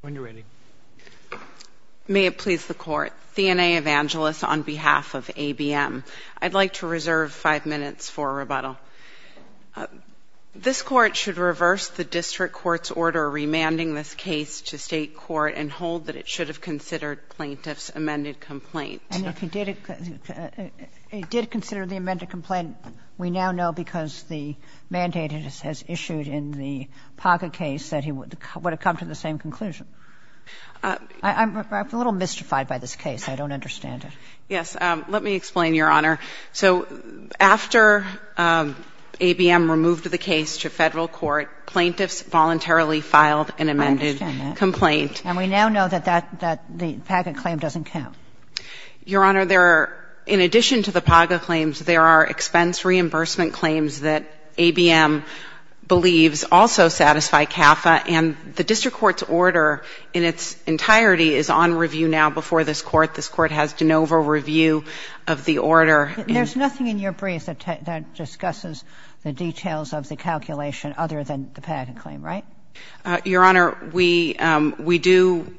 When you're ready. May it please the court. Thena Evangelis on behalf of ABM. I'd like to reserve five minutes for rebuttal. This court should reverse the district court's order remanding this case to state court and hold that it should have considered plaintiff's amended complaint. And if it did, it did consider the amended complaint. We now know because the mandate has issued in the Paca case that he would have come to the same conclusion I'm a little mystified by this case. I don't understand it. Yes. Let me explain, Your Honor. So after ABM removed the case to federal court, plaintiffs voluntarily filed an amended complaint. I understand that. And we now know that the Paca claim doesn't count. Your Honor, there are, in addition to the Paca claims, there are expense reimbursement claims that ABM believes also satisfy CAFA and the district court's order in its entirety is on review now before this Court. This Court has de novo review of the order. There's nothing in your briefs that discusses the details of the calculation other than the Paca claim, right? Your Honor, we do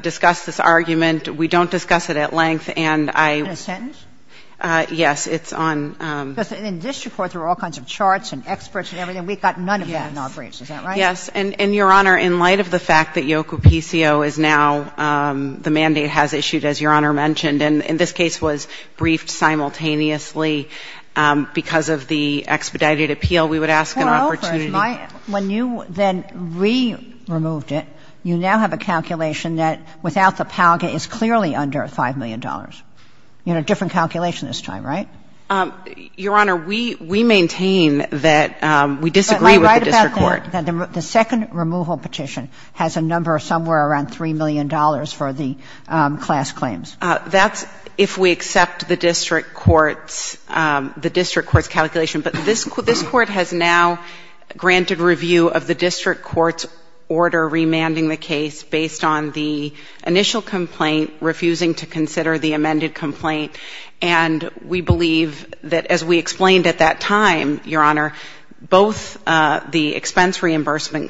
discuss this argument. We don't discuss it at length. And I In a sentence? Yes. It's on In this report, there are all kinds of charts and experts and everything. We've got none of that in our briefs. Is that right? Yes. And, Your Honor, in light of the fact that Yoku P.C.O. is now the mandate has issued, as Your Honor mentioned, and this case was briefed simultaneously because of the expedited appeal, we would ask an opportunity Four over. When you then re-removed it, you now have a calculation that without the Palga is clearly under $5 million. You had a different calculation this time, right? Your Honor, we maintain that we disagree with the district court. The second removal petition has a number of somewhere around $3 million for the class claims. That's if we accept the district court's calculation. But this court has now granted review of the district court's order remanding the case based on the initial complaint, refusing to consider the amended complaint. And we believe that, as we reimbursement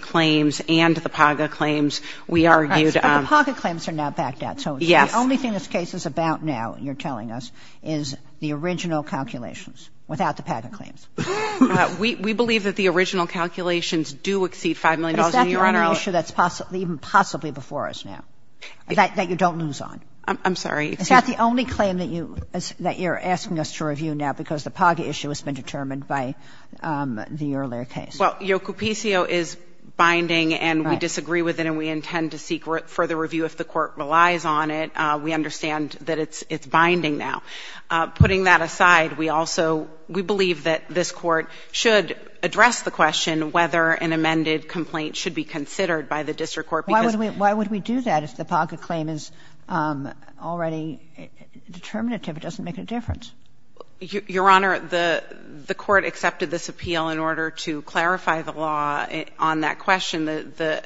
claims and the Palga claims, we argued... But the Palga claims are now backed out. Yes. So the only thing this case is about now, you're telling us, is the original calculations, without the Palga claims. We believe that the original calculations do exceed $5 million. Is that the only issue that's even possibly before us now, that you don't lose on? I'm sorry. Is that the only claim that you're asking us to review now because the Palga issue has been determined by the earlier case? Well, Yocupicio is binding and we disagree with it and we intend to seek further review if the court relies on it. We understand that it's binding now. Putting that aside, we also, we believe that this court should address the question whether an amended complaint should be considered by the district court because... Why would we do that if the Palga claim is already determinative? It doesn't make a difference. Your Honor, the court accepted this appeal in order to clarify the law on that question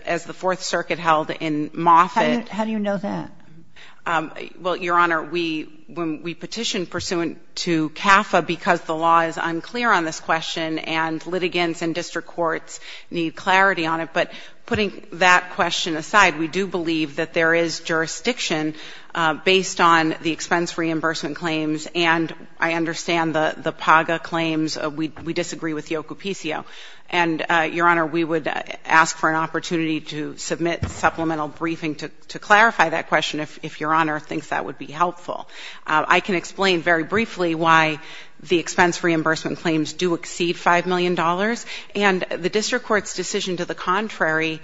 as the Fourth Circuit held in Moffitt. How do you know that? Well, Your Honor, when we petitioned pursuant to CAFA because the law is unclear on this question and litigants and district courts need clarity on it. But putting that question aside, we do believe that there is jurisdiction based on the expense reimbursement claims and I understand the Palga claims. We disagree with Yocupicio and, Your Honor, we would ask for an opportunity to submit supplemental briefing to clarify that question if Your Honor thinks that would be helpful. I can explain very briefly why the expense reimbursement claims do exceed $5 million and the district court's decision to the contrary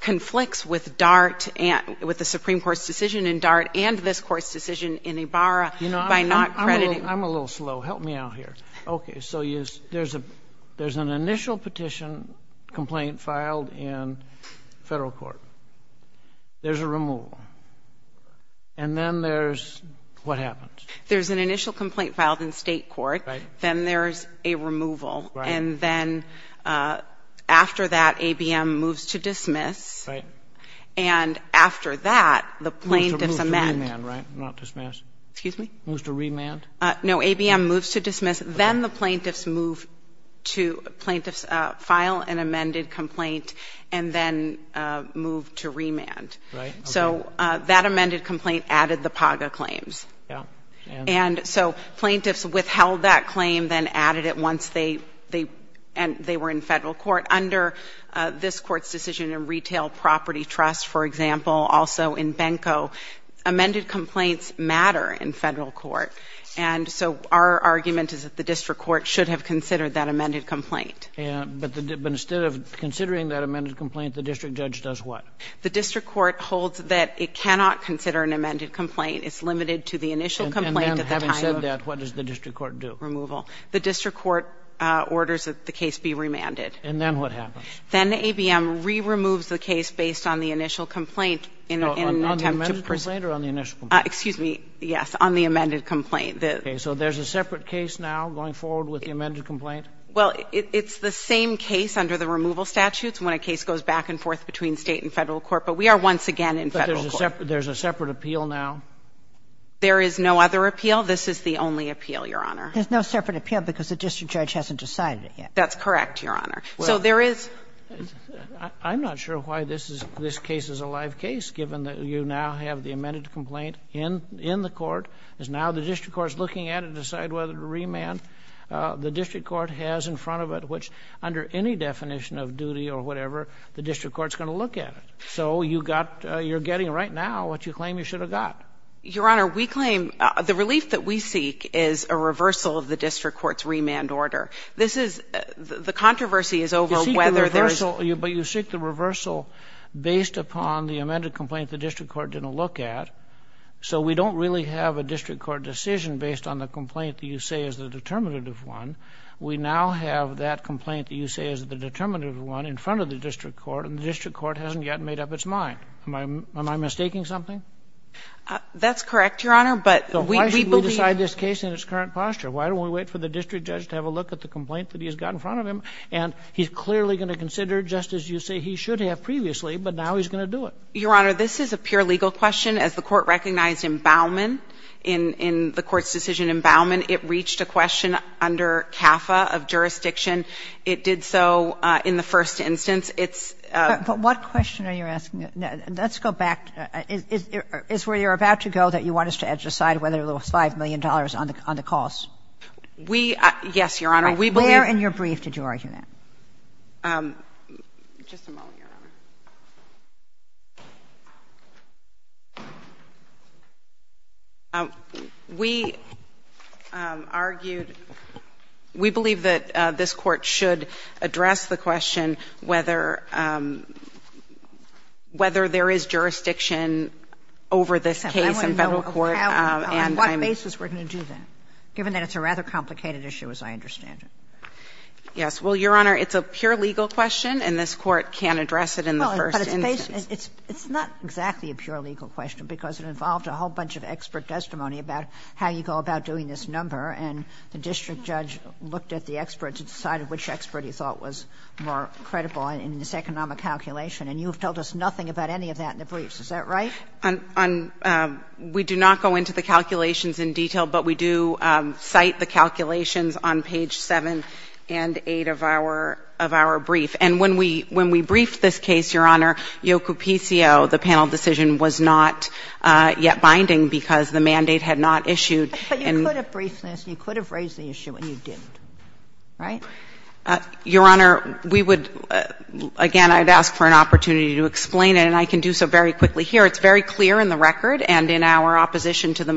conflicts with DART and, with the Supreme Court's decision in DART and this court's decision in Ibarra by not crediting... You know, I'm a little slow. Help me out here. Okay, so there's an initial petition complaint filed in federal court. There's a removal. And then there's... What happens? There's an initial complaint filed in state court. Then there's a removal. And then after that, ABM moves to dismiss. And after that, the plaintiff's amend. Moves to remand, right? Not dismiss. Excuse me? Moves to remand? No, ABM moves to dismiss. Then the plaintiff's move to plaintiff's file an amended complaint and then move to remand. Right. So that amended complaint added the Palga claims. Yeah. And so plaintiffs withheld that claim, then added it once they were in federal court. Under this court's decision in Retail Property Trust, for example, also in Benko, amended complaints matter in federal court. And so our argument is that the district court should have considered that amended complaint. Yeah, but instead of considering that amended complaint, the district judge does what? The district court holds that it cannot consider an amended complaint. It's limited to the initial complaint at the time... And then, having said that, what does the district court do? Removal. The district court orders that the case be remanded. And then what happens? Then the ABM re-removes the case based on the initial complaint in an attempt to... So there's a separate case now going forward with the amended complaint? Well, it's the same case under the removal statutes, when a case goes back and forth between State and federal court. But we are once again in federal court. But there's a separate appeal now? There is no other appeal. This is the only appeal, Your Honor. There's no separate appeal because the district judge hasn't decided it yet. That's correct, Your Honor. So there is... I'm not sure why this is, this case is a live case, given that you now have the amended complaint in, in the court. It's now the district court's looking at it to decide whether to remand. The district court has in front of it, which under any definition of duty or whatever, the district court's going to look at it. So you got, you're getting right now what you claim you should have got. Your Honor, we claim, the relief that we seek is a reversal of the district court's remand order. This is, the controversy is over whether there's... You seek the reversal, based upon the amended complaint the district court didn't look at. So we don't really have a district court decision based on the complaint that you say is the determinative one. We now have that complaint that you say is the determinative one in front of the district court, and the district court hasn't yet made up its mind. Am I, am I mistaking something? That's correct, Your Honor, but we believe... So why should we decide this case in its current posture? Why don't we wait for the district judge to have a look at the complaint that he's got in front of him? And he's clearly going to consider, just as you say he should have previously, but now he's going to do it. Your Honor, this is a pure legal question. As the court recognized in Bauman, in the court's decision in Bauman, it reached a question under CAFA of jurisdiction. It did so in the first instance. It's... But what question are you asking? Let's go back. Is where you're about to go that you want us to decide whether there was $5 million on the costs? We, yes, Your Honor, we believe... Where in your brief did you argue that? Just a moment, Your Honor. We argued, we believe that this Court should address the question whether, whether there is jurisdiction over this case in Federal court, and I'm... I want to know on what basis we're going to do that, given that it's a rather complicated issue, as I understand it. Yes. Well, Your Honor, it's a pure legal question, and this Court can't address it in the first instance. Well, but it's based, it's not exactly a pure legal question, because it involved a whole bunch of expert testimony about how you go about doing this number, and the district judge looked at the experts and decided which expert he thought was more credible in this economic calculation. And you have told us nothing about any of that in the briefs. Is that right? On, we do not go into the calculations in detail, but we do cite the calculations on page 7 and 8 of our, of our brief. And when we, when we briefed this case, Your Honor, Yoku P.C.O., the panel decision was not yet binding, because the mandate had not issued. But you could have briefed this, and you could have raised the issue, and you didn't. Right? Your Honor, we would, again, I'd ask for an opportunity to explain it, and I can do so very quickly here. It's very clear in the record and in our opposition to the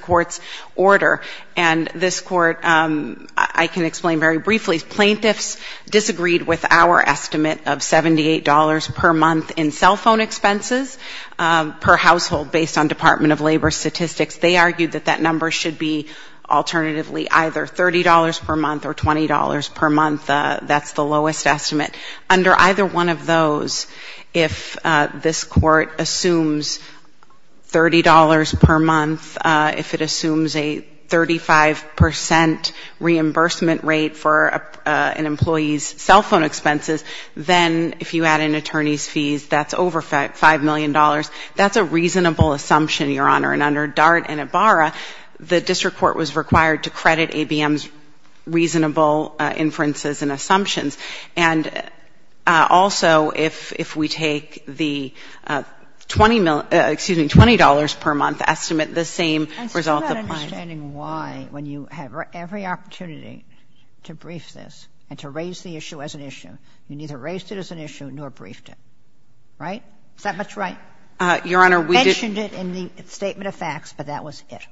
Court's order. And this Court, I can explain very briefly, plaintiffs disagreed with our estimate of $78 per month in cell phone expenses per household, based on Department of Labor statistics. They argued that that number should be alternatively either $30 per month or $20 per month. That's the lowest estimate. Under either one of those, if this Court assumes $30 per month, if it assumes a 35 percent reimbursement rate for an employee's cell phone expenses, then if you add in attorney's fees, that's over $5 million. That's a reasonable assumption, Your Honor. And under Dart and Ibarra, the district court was required to credit ABM's reasonable inferences and assumptions. And also, if we take the $20 per month estimate, the same result applies. And so I'm not understanding why, when you have every opportunity to brief this and to raise the issue as an issue, you neither raised it as an issue nor briefed it. Right? Is that much right? Your Honor, we did — You mentioned it in the Statement of Facts, but that was it.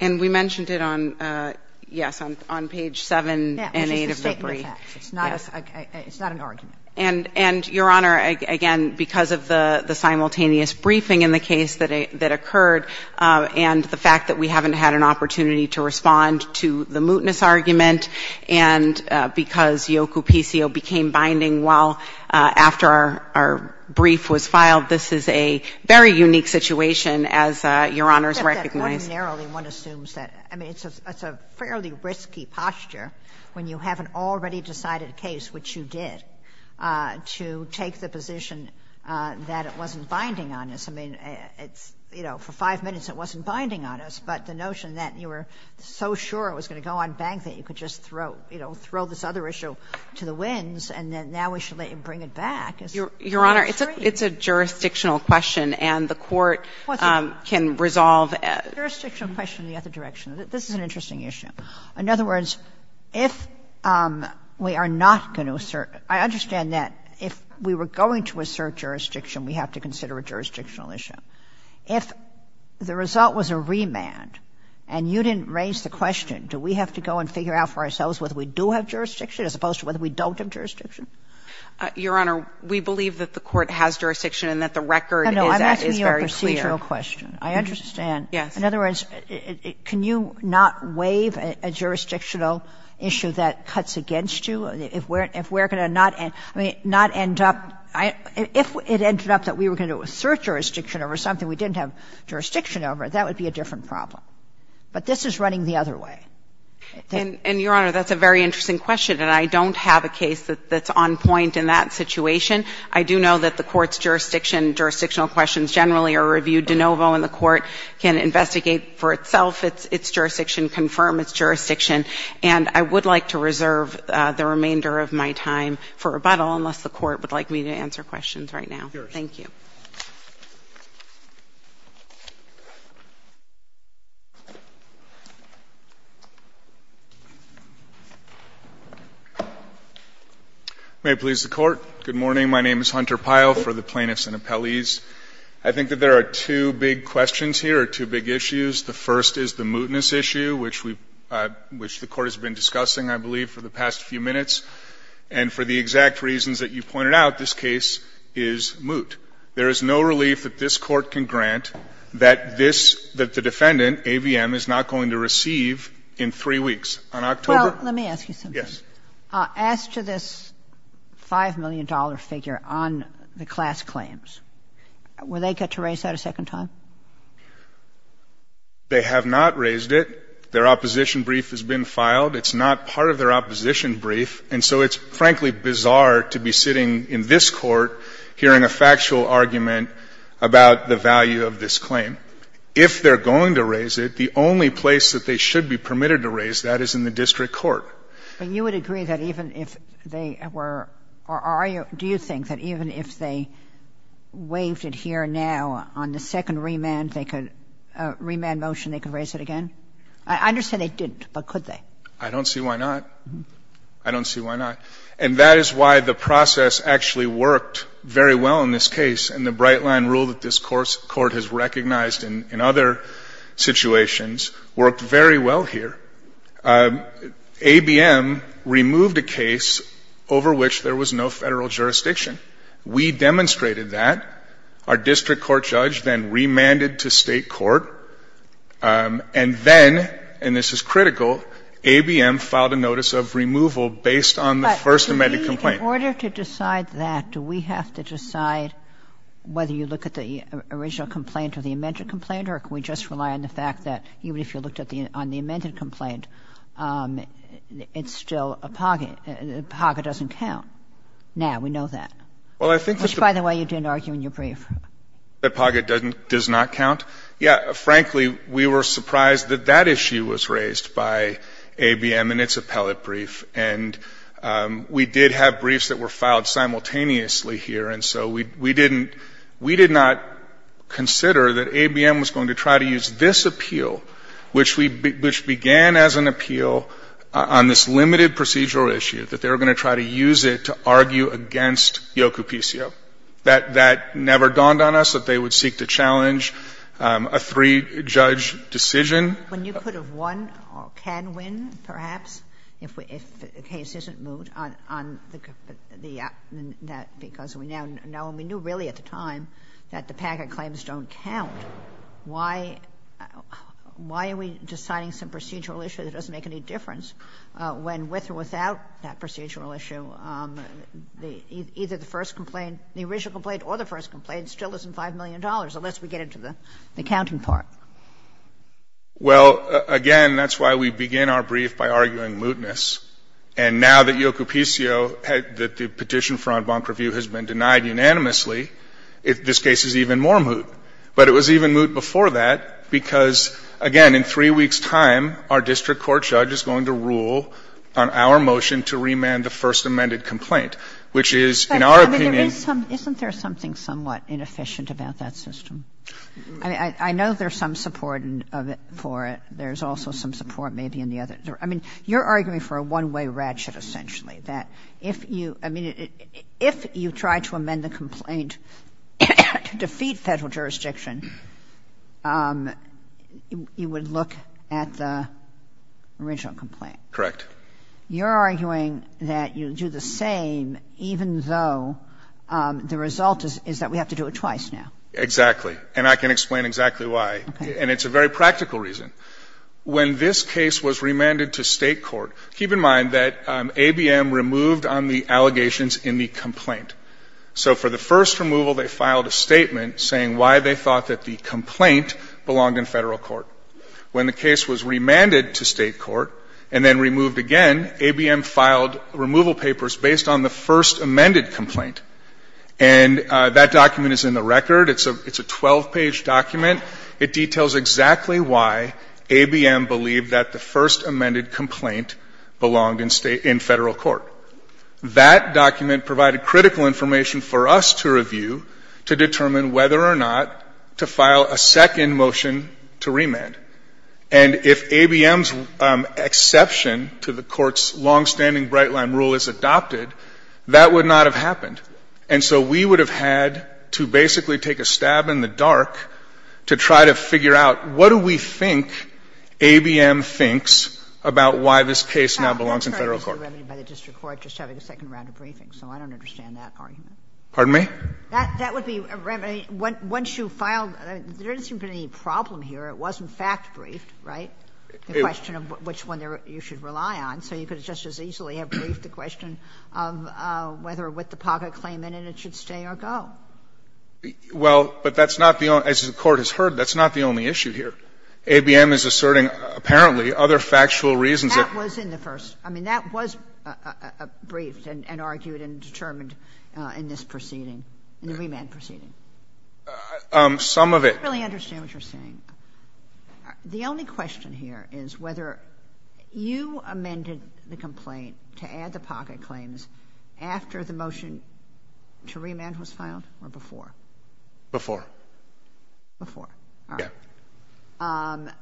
And we mentioned it on, yes, on page 7 and 8 of the brief. Yeah, which is the Statement of Facts. It's not a — it's not an argument. And, Your Honor, again, because of the simultaneous briefing in the case that occurred and the fact that we haven't had an opportunity to respond to the mootness argument and because Yocupicio became binding while — after our brief was filed, this is a very unique situation, as Your Honors recognize. But ordinarily, one assumes that — I mean, it's a fairly risky posture when you have an already decided case, which you did, to take the position that it wasn't binding on us. I mean, it's — you know, for five minutes it wasn't binding on us, but the notion that you were so sure it was going to go unbanked that you could just throw, you know, throw this other issue to the winds and then now we should let you bring it back is — Your Honor, it's a — it's a jurisdictional question, and the Court can resolve — It's a jurisdictional question in the other direction. This is an interesting issue. In other words, if we are not going to assert — I understand that if we were going to assert jurisdiction, we have to consider a jurisdictional issue. If the result was a remand and you didn't raise the question, do we have to go and figure out for ourselves whether we do have jurisdiction as opposed to whether we don't have jurisdiction? Your Honor, we believe that the Court has jurisdiction and that the record is — No, no, I'm asking you a procedural question. I understand. Yes. In other words, can you not waive a jurisdictional issue that cuts against you? If we're going to not — I mean, not end up — if it ended up that we were going to assert jurisdiction over something we didn't have jurisdiction over, that would be a different problem. But this is running the other way. And, Your Honor, that's a very interesting question, and I don't have a case that's on point in that situation. I do know that the Court's jurisdiction, jurisdictional questions generally are reviewed and the court can investigate for itself its jurisdiction, confirm its jurisdiction. And I would like to reserve the remainder of my time for rebuttal unless the Court would like me to answer questions right now. Sure. Thank you. May it please the Court. Good morning. My name is Hunter Pyle for the Plaintiffs and Appellees. I think that there are two big questions here or two big issues. The first is the mootness issue, which we — which the Court has been discussing, I believe, for the past few minutes. And for the exact reasons that you pointed out, this case is moot. There is no relief that this Court can grant that this — that the defendant, AVM, is not going to receive in three weeks. On October — Well, let me ask you something. Yes. As to this $5 million figure on the class claims, will they get to raise that a second time? They have not raised it. Their opposition brief has been filed. It's not part of their opposition brief. And so it's, frankly, bizarre to be sitting in this Court hearing a factual argument about the value of this claim. If they're going to raise it, the only place that they should be permitted to raise that is in the district court. But you would agree that even if they were — or are you — do you think that even if they waived it here now, on the second remand, they could — remand motion, they could raise it again? I understand they didn't, but could they? I don't see why not. I don't see why not. And that is why the process actually worked very well in this case. And the bright-line rule that this Court has recognized in other situations worked very well here. ABM removed a case over which there was no federal jurisdiction. We demonstrated that. Our district court judge then remanded to state court. And then — and this is critical — ABM filed a notice of removal based on the first amended complaint. But in order to decide that, do we have to decide whether you look at the original complaint or the amended complaint, or can we just rely on the fact that even if you looked at the — on the amended complaint, it's still a pocket? A pocket doesn't count now. We know that. Well, I think — Which, by the way, you didn't argue in your brief. That pocket doesn't — does not count? Yeah. Frankly, we were surprised that that issue was raised by ABM in its appellate brief. And we did have briefs that were filed simultaneously here. And so we didn't — we did not consider that ABM was going to try to use this appeal, which we — which began as an appeal on this limited procedural issue, that they were going to try to use it to argue against Yocupicio. That never dawned on us that they would seek to challenge a three-judge decision. When you could have won or can win, perhaps, if the case isn't moved on the — because we now know — and we knew really at the time that the packet claims don't count, why are we deciding some procedural issue that doesn't make any difference when, with or without that procedural issue, either the first complaint — the original complaint or the first complaint still isn't $5 million, unless we get into the counting part? Well, again, that's why we begin our brief by arguing mootness. And now that Yocupicio — that the petition for en banc review has been denied unanimously, this case is even more moot. But it was even moot before that because, again, in three weeks' time, our district court judge is going to rule on our motion to remand the first amended complaint, which is, in our opinion — But, I mean, there is some — isn't there something somewhat inefficient about that system? I mean, I know there's some support for it. There's also some support maybe in the other — I mean, you're arguing for a one-way ratchet, essentially. That if you — I mean, if you try to amend the complaint to defeat federal jurisdiction, you would look at the original complaint. Correct. You're arguing that you'll do the same even though the result is that we have to do it twice now. Exactly. And I can explain exactly why. Okay. And it's a very practical reason. When this case was remanded to state court — keep in mind that ABM removed on the allegations in the complaint. So for the first removal, they filed a statement saying why they thought that the complaint belonged in federal court. When the case was remanded to state court and then removed again, ABM filed removal papers based on the first amended complaint. And that document is in the record. It's a 12-page document. It details exactly why ABM believed that the first amended complaint belonged in state — in federal court. That document provided critical information for us to review to determine whether or not to file a second motion to remand. And if ABM's exception to the court's longstanding Bright Line rule is adopted, that would not have happened. And so we would have had to basically take a stab in the dark to try to figure out what do we think ABM thinks about why this case now belongs in federal court. I'm sorry. This is a remedy by the district court just having a second round of briefings. So I don't understand that argument. Pardon me? That would be a remedy. Once you filed — there didn't seem to be any problem here. It was, in fact, briefed, right? It was. The question of which one you should rely on. So you could just as easily have briefed the question of whether with the pocket claim in it, it should stay or go. Well, but that's not the only — as the Court has heard, that's not the only issue here. ABM is asserting, apparently, other factual reasons that — That was in the first. I mean, that was briefed and argued and determined in this proceeding, in the remand proceeding. Some of it — I don't really understand what you're saying. The only question here is whether you amended the complaint to add the pocket claims after the motion to remand was filed or before? Before. Before. Yeah. All right.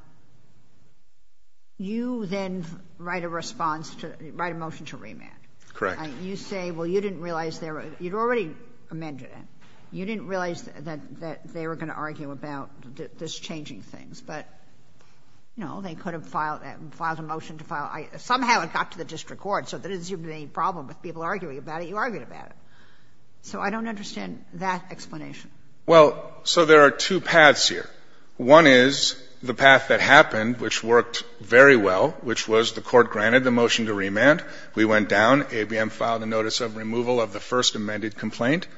You then write a response to — write a motion to remand. Correct. You say, well, you didn't realize there — you'd already amended it. You didn't realize that they were going to argue about this changing things. But, no, they could have filed — filed a motion to file — somehow it got to the district court, so there didn't seem to be any problem with people arguing about it. You argued about it. So I don't understand that explanation. Well, so there are two paths here. One is the path that happened, which worked very well, which was the Court granted the motion to remand. We went down. ABM filed a notice of removal of the first amended complaint.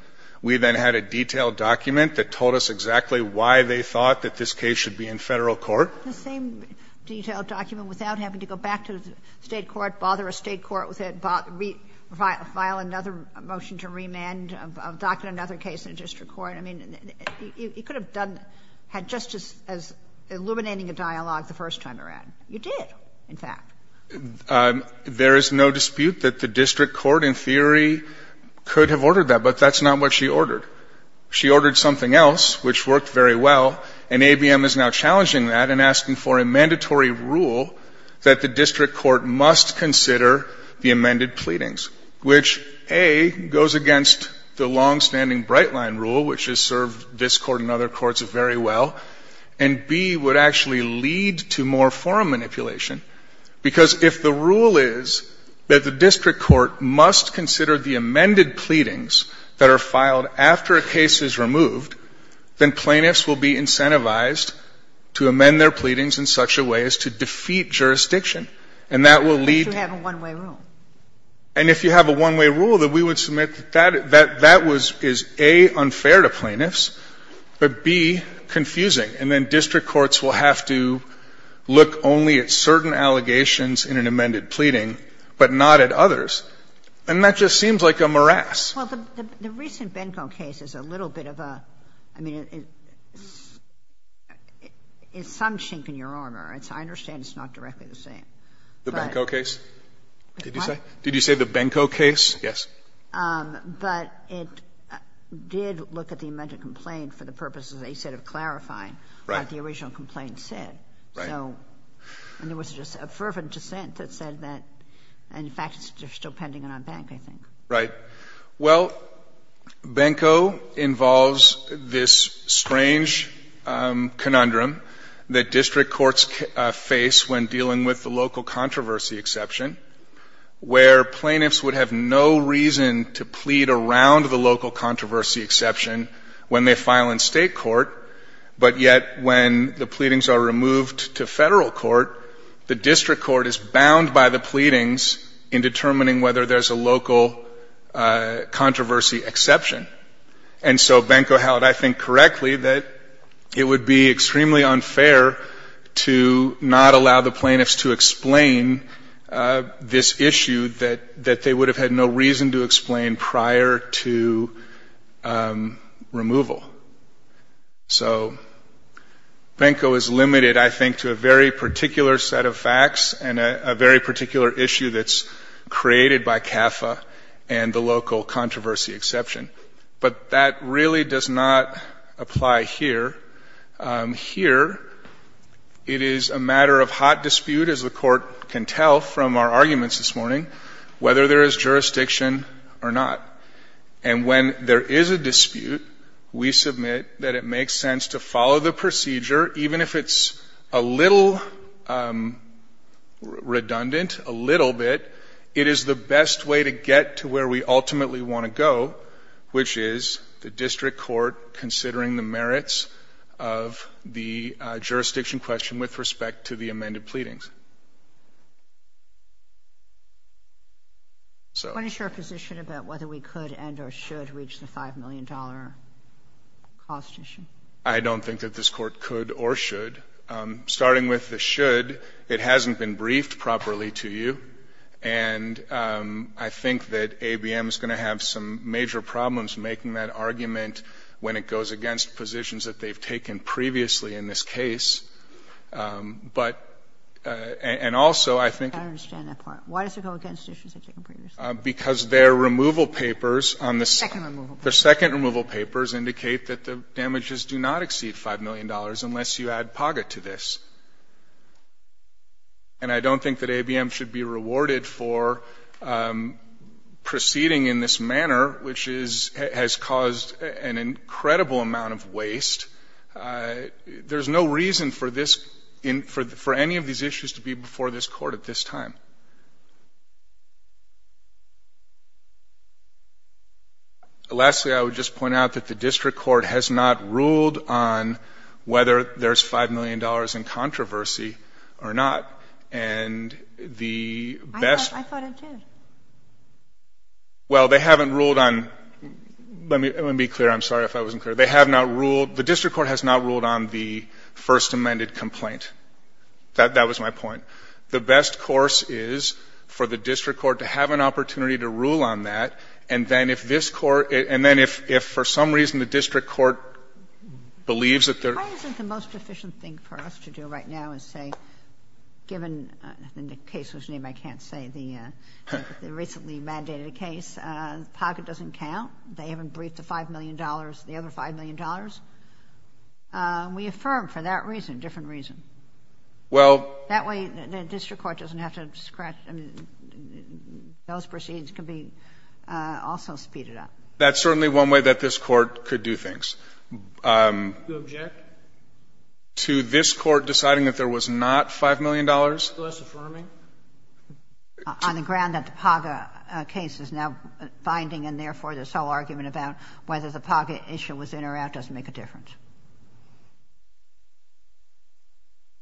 We then had a detailed document that told us exactly why they thought that this case should be in Federal court. The same detailed document without having to go back to the State court, bother a State court with it, file another motion to remand, adopt another case in the district court. I mean, you could have done — had just as — illuminating a dialogue the first time around. You did, in fact. There is no dispute that the district court, in theory, could have ordered that. But that's not what she ordered. She ordered something else, which worked very well. And ABM is now challenging that and asking for a mandatory rule that the district court must consider the amended pleadings, which, A, goes against the longstanding Brightline rule, which has served this Court and other courts very well, and, B, would actually lead to more forum manipulation. Because if the rule is that the district court must consider the amended pleadings that are filed after a case is removed, then plaintiffs will be incentivized to amend their pleadings in such a way as to defeat jurisdiction. And that will lead to — If you have a one-way rule. And if you have a one-way rule, then we would submit that that was, is, A, unfair to plaintiffs, but, B, confusing. And then district courts will have to look only at certain allegations in an amended pleading, but not at others. And that just seems like a morass. Well, the recent Benko case is a little bit of a — I mean, it's some shink in your honor, and so I understand it's not directly the same. The Benko case? What? Did you say? Did you say the Benko case? Yes. But it did look at the amended complaint for the purposes, as you said, of clarifying what the original complaint said. Right. So — and there was just a fervent dissent that said that — and, in fact, they're still pending it on bank, I think. Right. Well, Benko involves this strange conundrum that district courts face when dealing with the local controversy exception, where plaintiffs would have no reason to plead around the local controversy exception when they file in state court, but yet when the pleadings are removed to federal court, the district court is bound by the pleadings in determining whether there's a local controversy exception. And so Benko held, I think, correctly that it would be extremely unfair to not allow the plaintiffs to explain this issue that they would have had no reason to explain prior to removal. So Benko is limited, I think, to a very particular set of facts and a very particular issue that's created by CAFA and the local controversy exception. But that really does not apply here. Here, it is a matter of hot dispute, as the Court can tell from our arguments this morning, whether there is jurisdiction or not. And when there is a dispute, we submit that it makes sense to follow the procedure, even if it's a little redundant, a little bit. It is the best way to get to where we ultimately want to go, which is the district court considering the merits of the jurisdiction question with respect to the amended pleadings. So... What is your position about whether we could and or should reach the $5 million cost issue? I don't think that this Court could or should. Starting with the should, it hasn't been briefed properly to you, and I think that ABM is going to have some major problems making that argument when it goes against positions that they've taken previously in this case. But and also, I think... I don't understand that part. Why does it go against positions taken previously? Because their removal papers on the... Second removal papers. Indicate that the damages do not exceed $5 million unless you add PAGA to this. And I don't think that ABM should be rewarded for proceeding in this manner, which has caused an incredible amount of waste. There's no reason for any of these issues to be before this Court at this time. Lastly, I would just point out that the District Court has not ruled on whether there's $5 million in controversy or not. And the best... I thought it did. Well, they haven't ruled on... Let me be clear. I'm sorry if I wasn't clear. They have not ruled... The District Court has not ruled on the first amended complaint. That was my point. The best course is for the District Court to have an opportunity to rule on that and then if this Court... And then if for some reason the District Court believes that there... Why isn't the most efficient thing for us to do right now is say, given the case whose name I can't say, the recently mandated case, PAGA doesn't count. They haven't briefed the $5 million, the other $5 million. We affirm for that reason, different reason. Well... That way the District Court doesn't have to scratch... Those proceeds can be also speeded up. That's certainly one way that this Court could do things. Do you object? To this Court deciding that there was not $5 million? Is that less affirming? On the ground that the PAGA case is now binding and therefore there's no argument about whether the PAGA issue was in or out doesn't make a difference.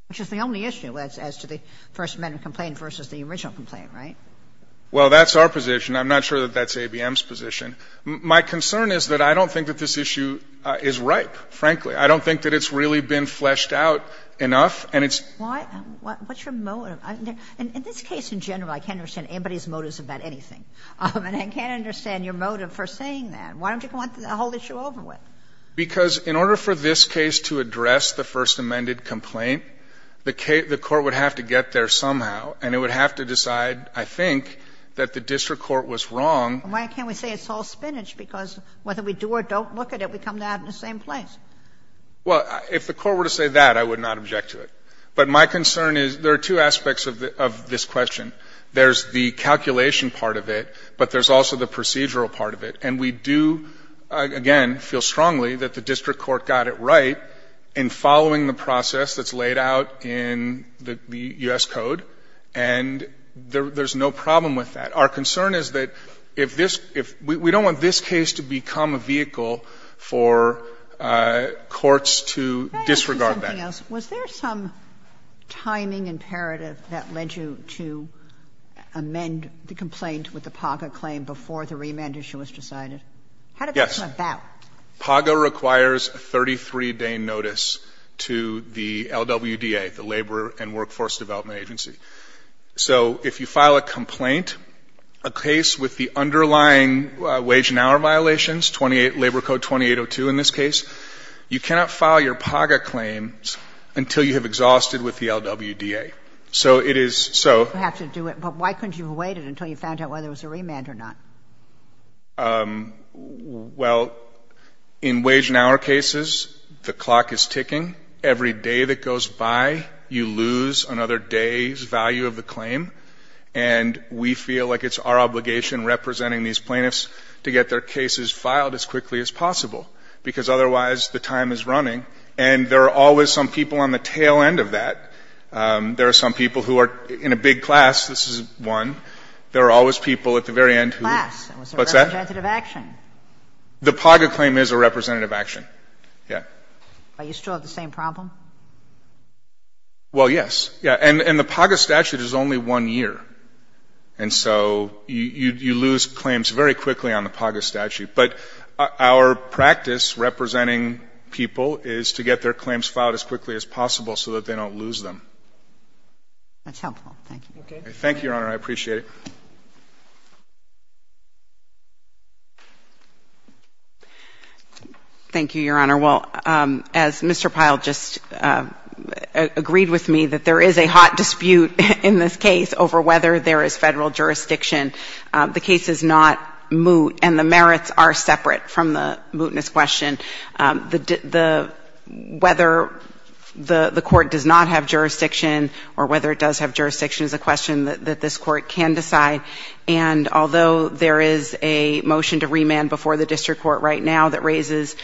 Which is the only issue as to the First Amendment complaint versus the original complaint, right? Well, that's our position. I'm not sure that that's ABM's position. My concern is that I don't think that this issue is ripe, frankly. I don't think that it's really been fleshed out enough and it's... Why? What's your motive? In this case in general, I can't understand anybody's motives about anything. And I can't understand your motive for saying that. Why don't you want the whole issue over with? Because in order for this case to address the First Amendment complaint, the Court would have to get there somehow. And it would have to decide, I think, that the district court was wrong. Why can't we say it's all spinach? Because whether we do or don't look at it, we come to that in the same place. Well, if the Court were to say that, I would not object to it. But my concern is there are two aspects of this question. There's the calculation part of it, but there's also the procedural part of it. And we do, again, feel strongly that the district court got it right in following the process that's laid out in the U.S. Code. And there's no problem with that. Our concern is that if this — we don't want this case to become a vehicle for courts to disregard that. Can I ask you something else? Was there some timing imperative that led you to amend the complaint with the PACA claim before the remand issue was decided? How did that come about? Yes. PAGA requires a 33-day notice to the LWDA, the Labor and Workforce Development Agency. So if you file a complaint, a case with the underlying wage and hour violations, Labor Code 2802 in this case, you cannot file your PAGA claims until you have exhausted with the LWDA. So it is — You have to do it. But why couldn't you have waited until you found out whether there was a remand or not? Well, in wage and hour cases, the clock is ticking. Every day that goes by, you lose another day's value of the claim. And we feel like it's our obligation, representing these plaintiffs, to get their cases filed as quickly as possible, because otherwise the time is running. And there are always some people on the tail end of that. There are some people who are in a big class. This is one. There are always people at the very end who — What's that? It's a representative action. The PAGA claim is a representative action. Yeah. But you still have the same problem? Well, yes. Yeah. And the PAGA statute is only one year. And so you lose claims very quickly on the PAGA statute. But our practice representing people is to get their claims filed as quickly as possible. That's helpful. Thank you. Okay. Thank you, Your Honor. I appreciate it. Thank you, Your Honor. Well, as Mr. Pyle just agreed with me, that there is a hot dispute in this case over whether there is Federal jurisdiction. The case is not moot, and the merits are separate from the mootness question. The — whether the court does not have jurisdiction or whether it does have jurisdiction is a question that this Court can decide. And although there is a motion to remand before the district court right now that raises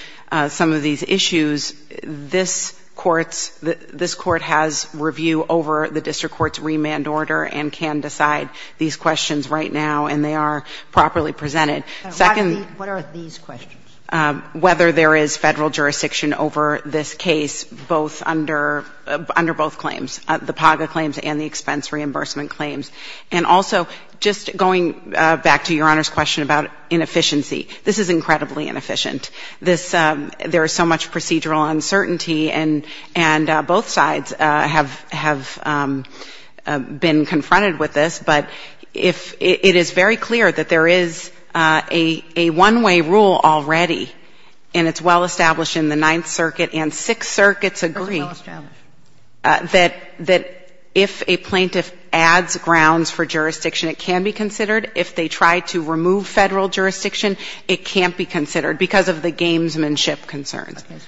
some of these issues, this Court's — this Court has review over the district court's remand order and can decide these questions right now, and they are properly presented. Second — What are these questions? — whether there is Federal jurisdiction over this case both under — under both claims, the PAGA claims and the expense reimbursement claims. And also, just going back to Your Honor's question about inefficiency, this is incredibly inefficient. This — there is so much procedural uncertainty, and both sides have been confronted with this. But if — it is very clear that there is a — a one-way rule already, and it's well established in the Ninth Circuit and Sixth Circuit's agreement — It's well established. — that — that if a plaintiff adds grounds for jurisdiction, it can be considered. If they try to remove Federal jurisdiction, it can't be considered because of the gamesmanship concerns. Okay.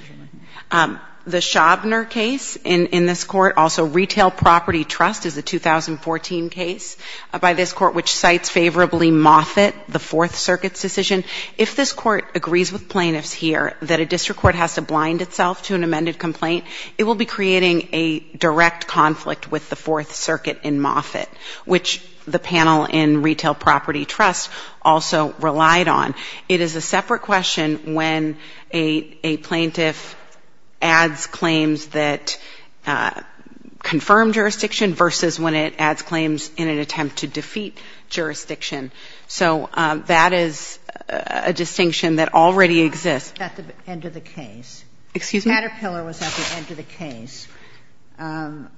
Sure. The Schabner case in — in this Court, also Retail Property Trust is a 2014 case by this Court, which cites favorably Moffitt, the Fourth Circuit's decision. If this Court agrees with plaintiffs here that a district court has to blind itself to an amended complaint, it will be creating a direct conflict with the Fourth Circuit in Moffitt, which the panel in Retail Property Trust also relied on. It is a separate question when a — a plaintiff adds claims that confirm jurisdiction versus when it adds claims in an attempt to defeat jurisdiction. So that is a distinction that already exists. At the end of the case. Excuse me? Caterpillar was at the end of the case. In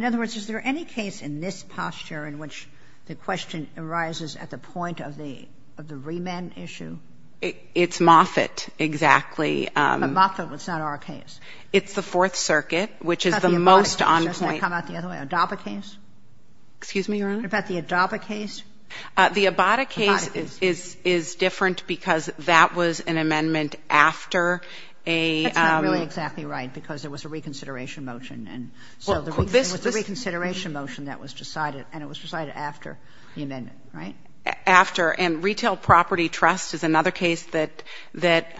other words, is there any case in this posture in which the question arises at the point of the — of the remand issue? It's Moffitt, exactly. But Moffitt was not our case. It's the Fourth Circuit, which is the most on point. Doesn't that come out the other way? Adaba case? Excuse me, Your Honor? What about the Adaba case? The Abada case is — is different because that was an amendment after a — That's not really exactly right because it was a reconsideration motion, and so the reconsideration motion that was decided, and it was decided after the amendment, right? After. And Retail Property Trust is another case that — that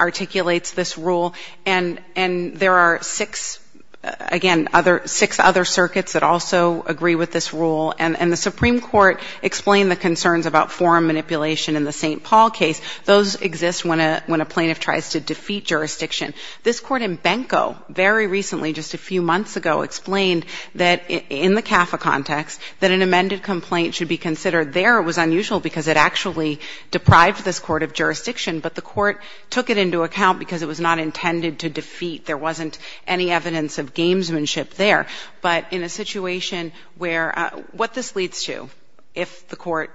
articulates this rule. And — and there are six — again, other — six other circuits that also agree with this rule. And — and the Supreme Court explained the concerns about forum manipulation in the St. Paul case. Those exist when a — when a plaintiff tries to defeat jurisdiction. This court in Benko very recently, just a few months ago, explained that in the case of Benko, the first amended complaint should be considered. There, it was unusual because it actually deprived this court of jurisdiction, but the court took it into account because it was not intended to defeat. There wasn't any evidence of gamesmanship there. But in a situation where — what this leads to, if the court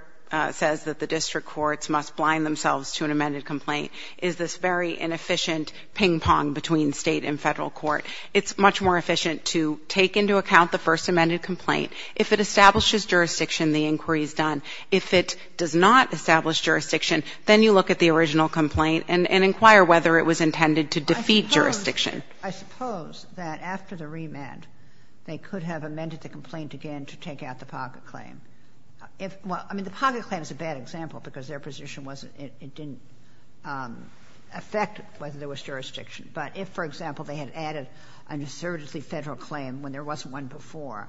says that the district courts must blind themselves to an amended complaint, is this very inefficient ping-pong between State and Federal court. It's much more efficient to take into account the first amended complaint. If it establishes jurisdiction, the inquiry is done. If it does not establish jurisdiction, then you look at the original complaint and — and inquire whether it was intended to defeat jurisdiction. I suppose — I suppose that after the remand, they could have amended the complaint again to take out the pocket claim. If — well, I mean, the pocket claim is a bad example because their position wasn't — it didn't affect whether there was jurisdiction. But if, for example, they had added an assertively Federal claim when there wasn't one before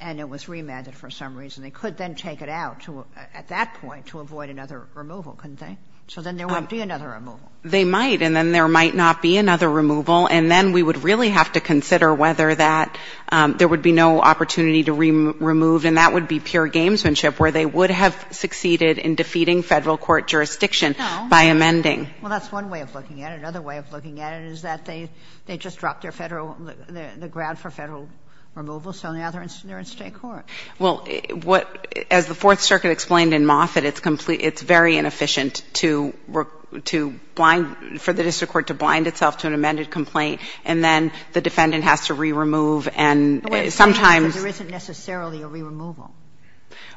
and it was remanded for some reason, they could then take it out to — at that point to avoid another removal, couldn't they? So then there wouldn't be another removal. They might. And then there might not be another removal. And then we would really have to consider whether that — there would be no opportunity to remove, and that would be pure gamesmanship, where they would have succeeded in defeating Federal court jurisdiction by amending. No. Well, that's one way of looking at it. Another way of looking at it is that they — they just dropped their Federal — the grant for Federal removal, so now they're in state court. Well, what — as the Fourth Circuit explained in Moffitt, it's complete — it's very inefficient to — to blind — for the district court to blind itself to an amended complaint, and then the defendant has to re-remove and sometimes — But wait a second, because there isn't necessarily a re-removal.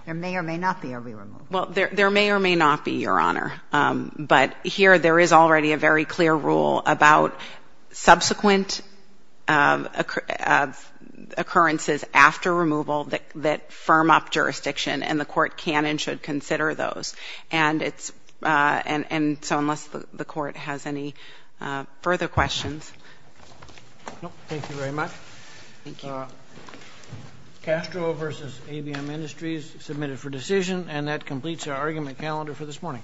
There may or may not be a re-removal. Well, there — there may or may not be, Your Honor. But here, there is already a very clear rule about subsequent occurrences after removal that — that firm up jurisdiction, and the court can and should consider those. And it's — and — and so unless the court has any further questions. No. Thank you very much. Thank you. Castro v. ABM Industries, submitted for decision. And that completes our argument calendar for this morning.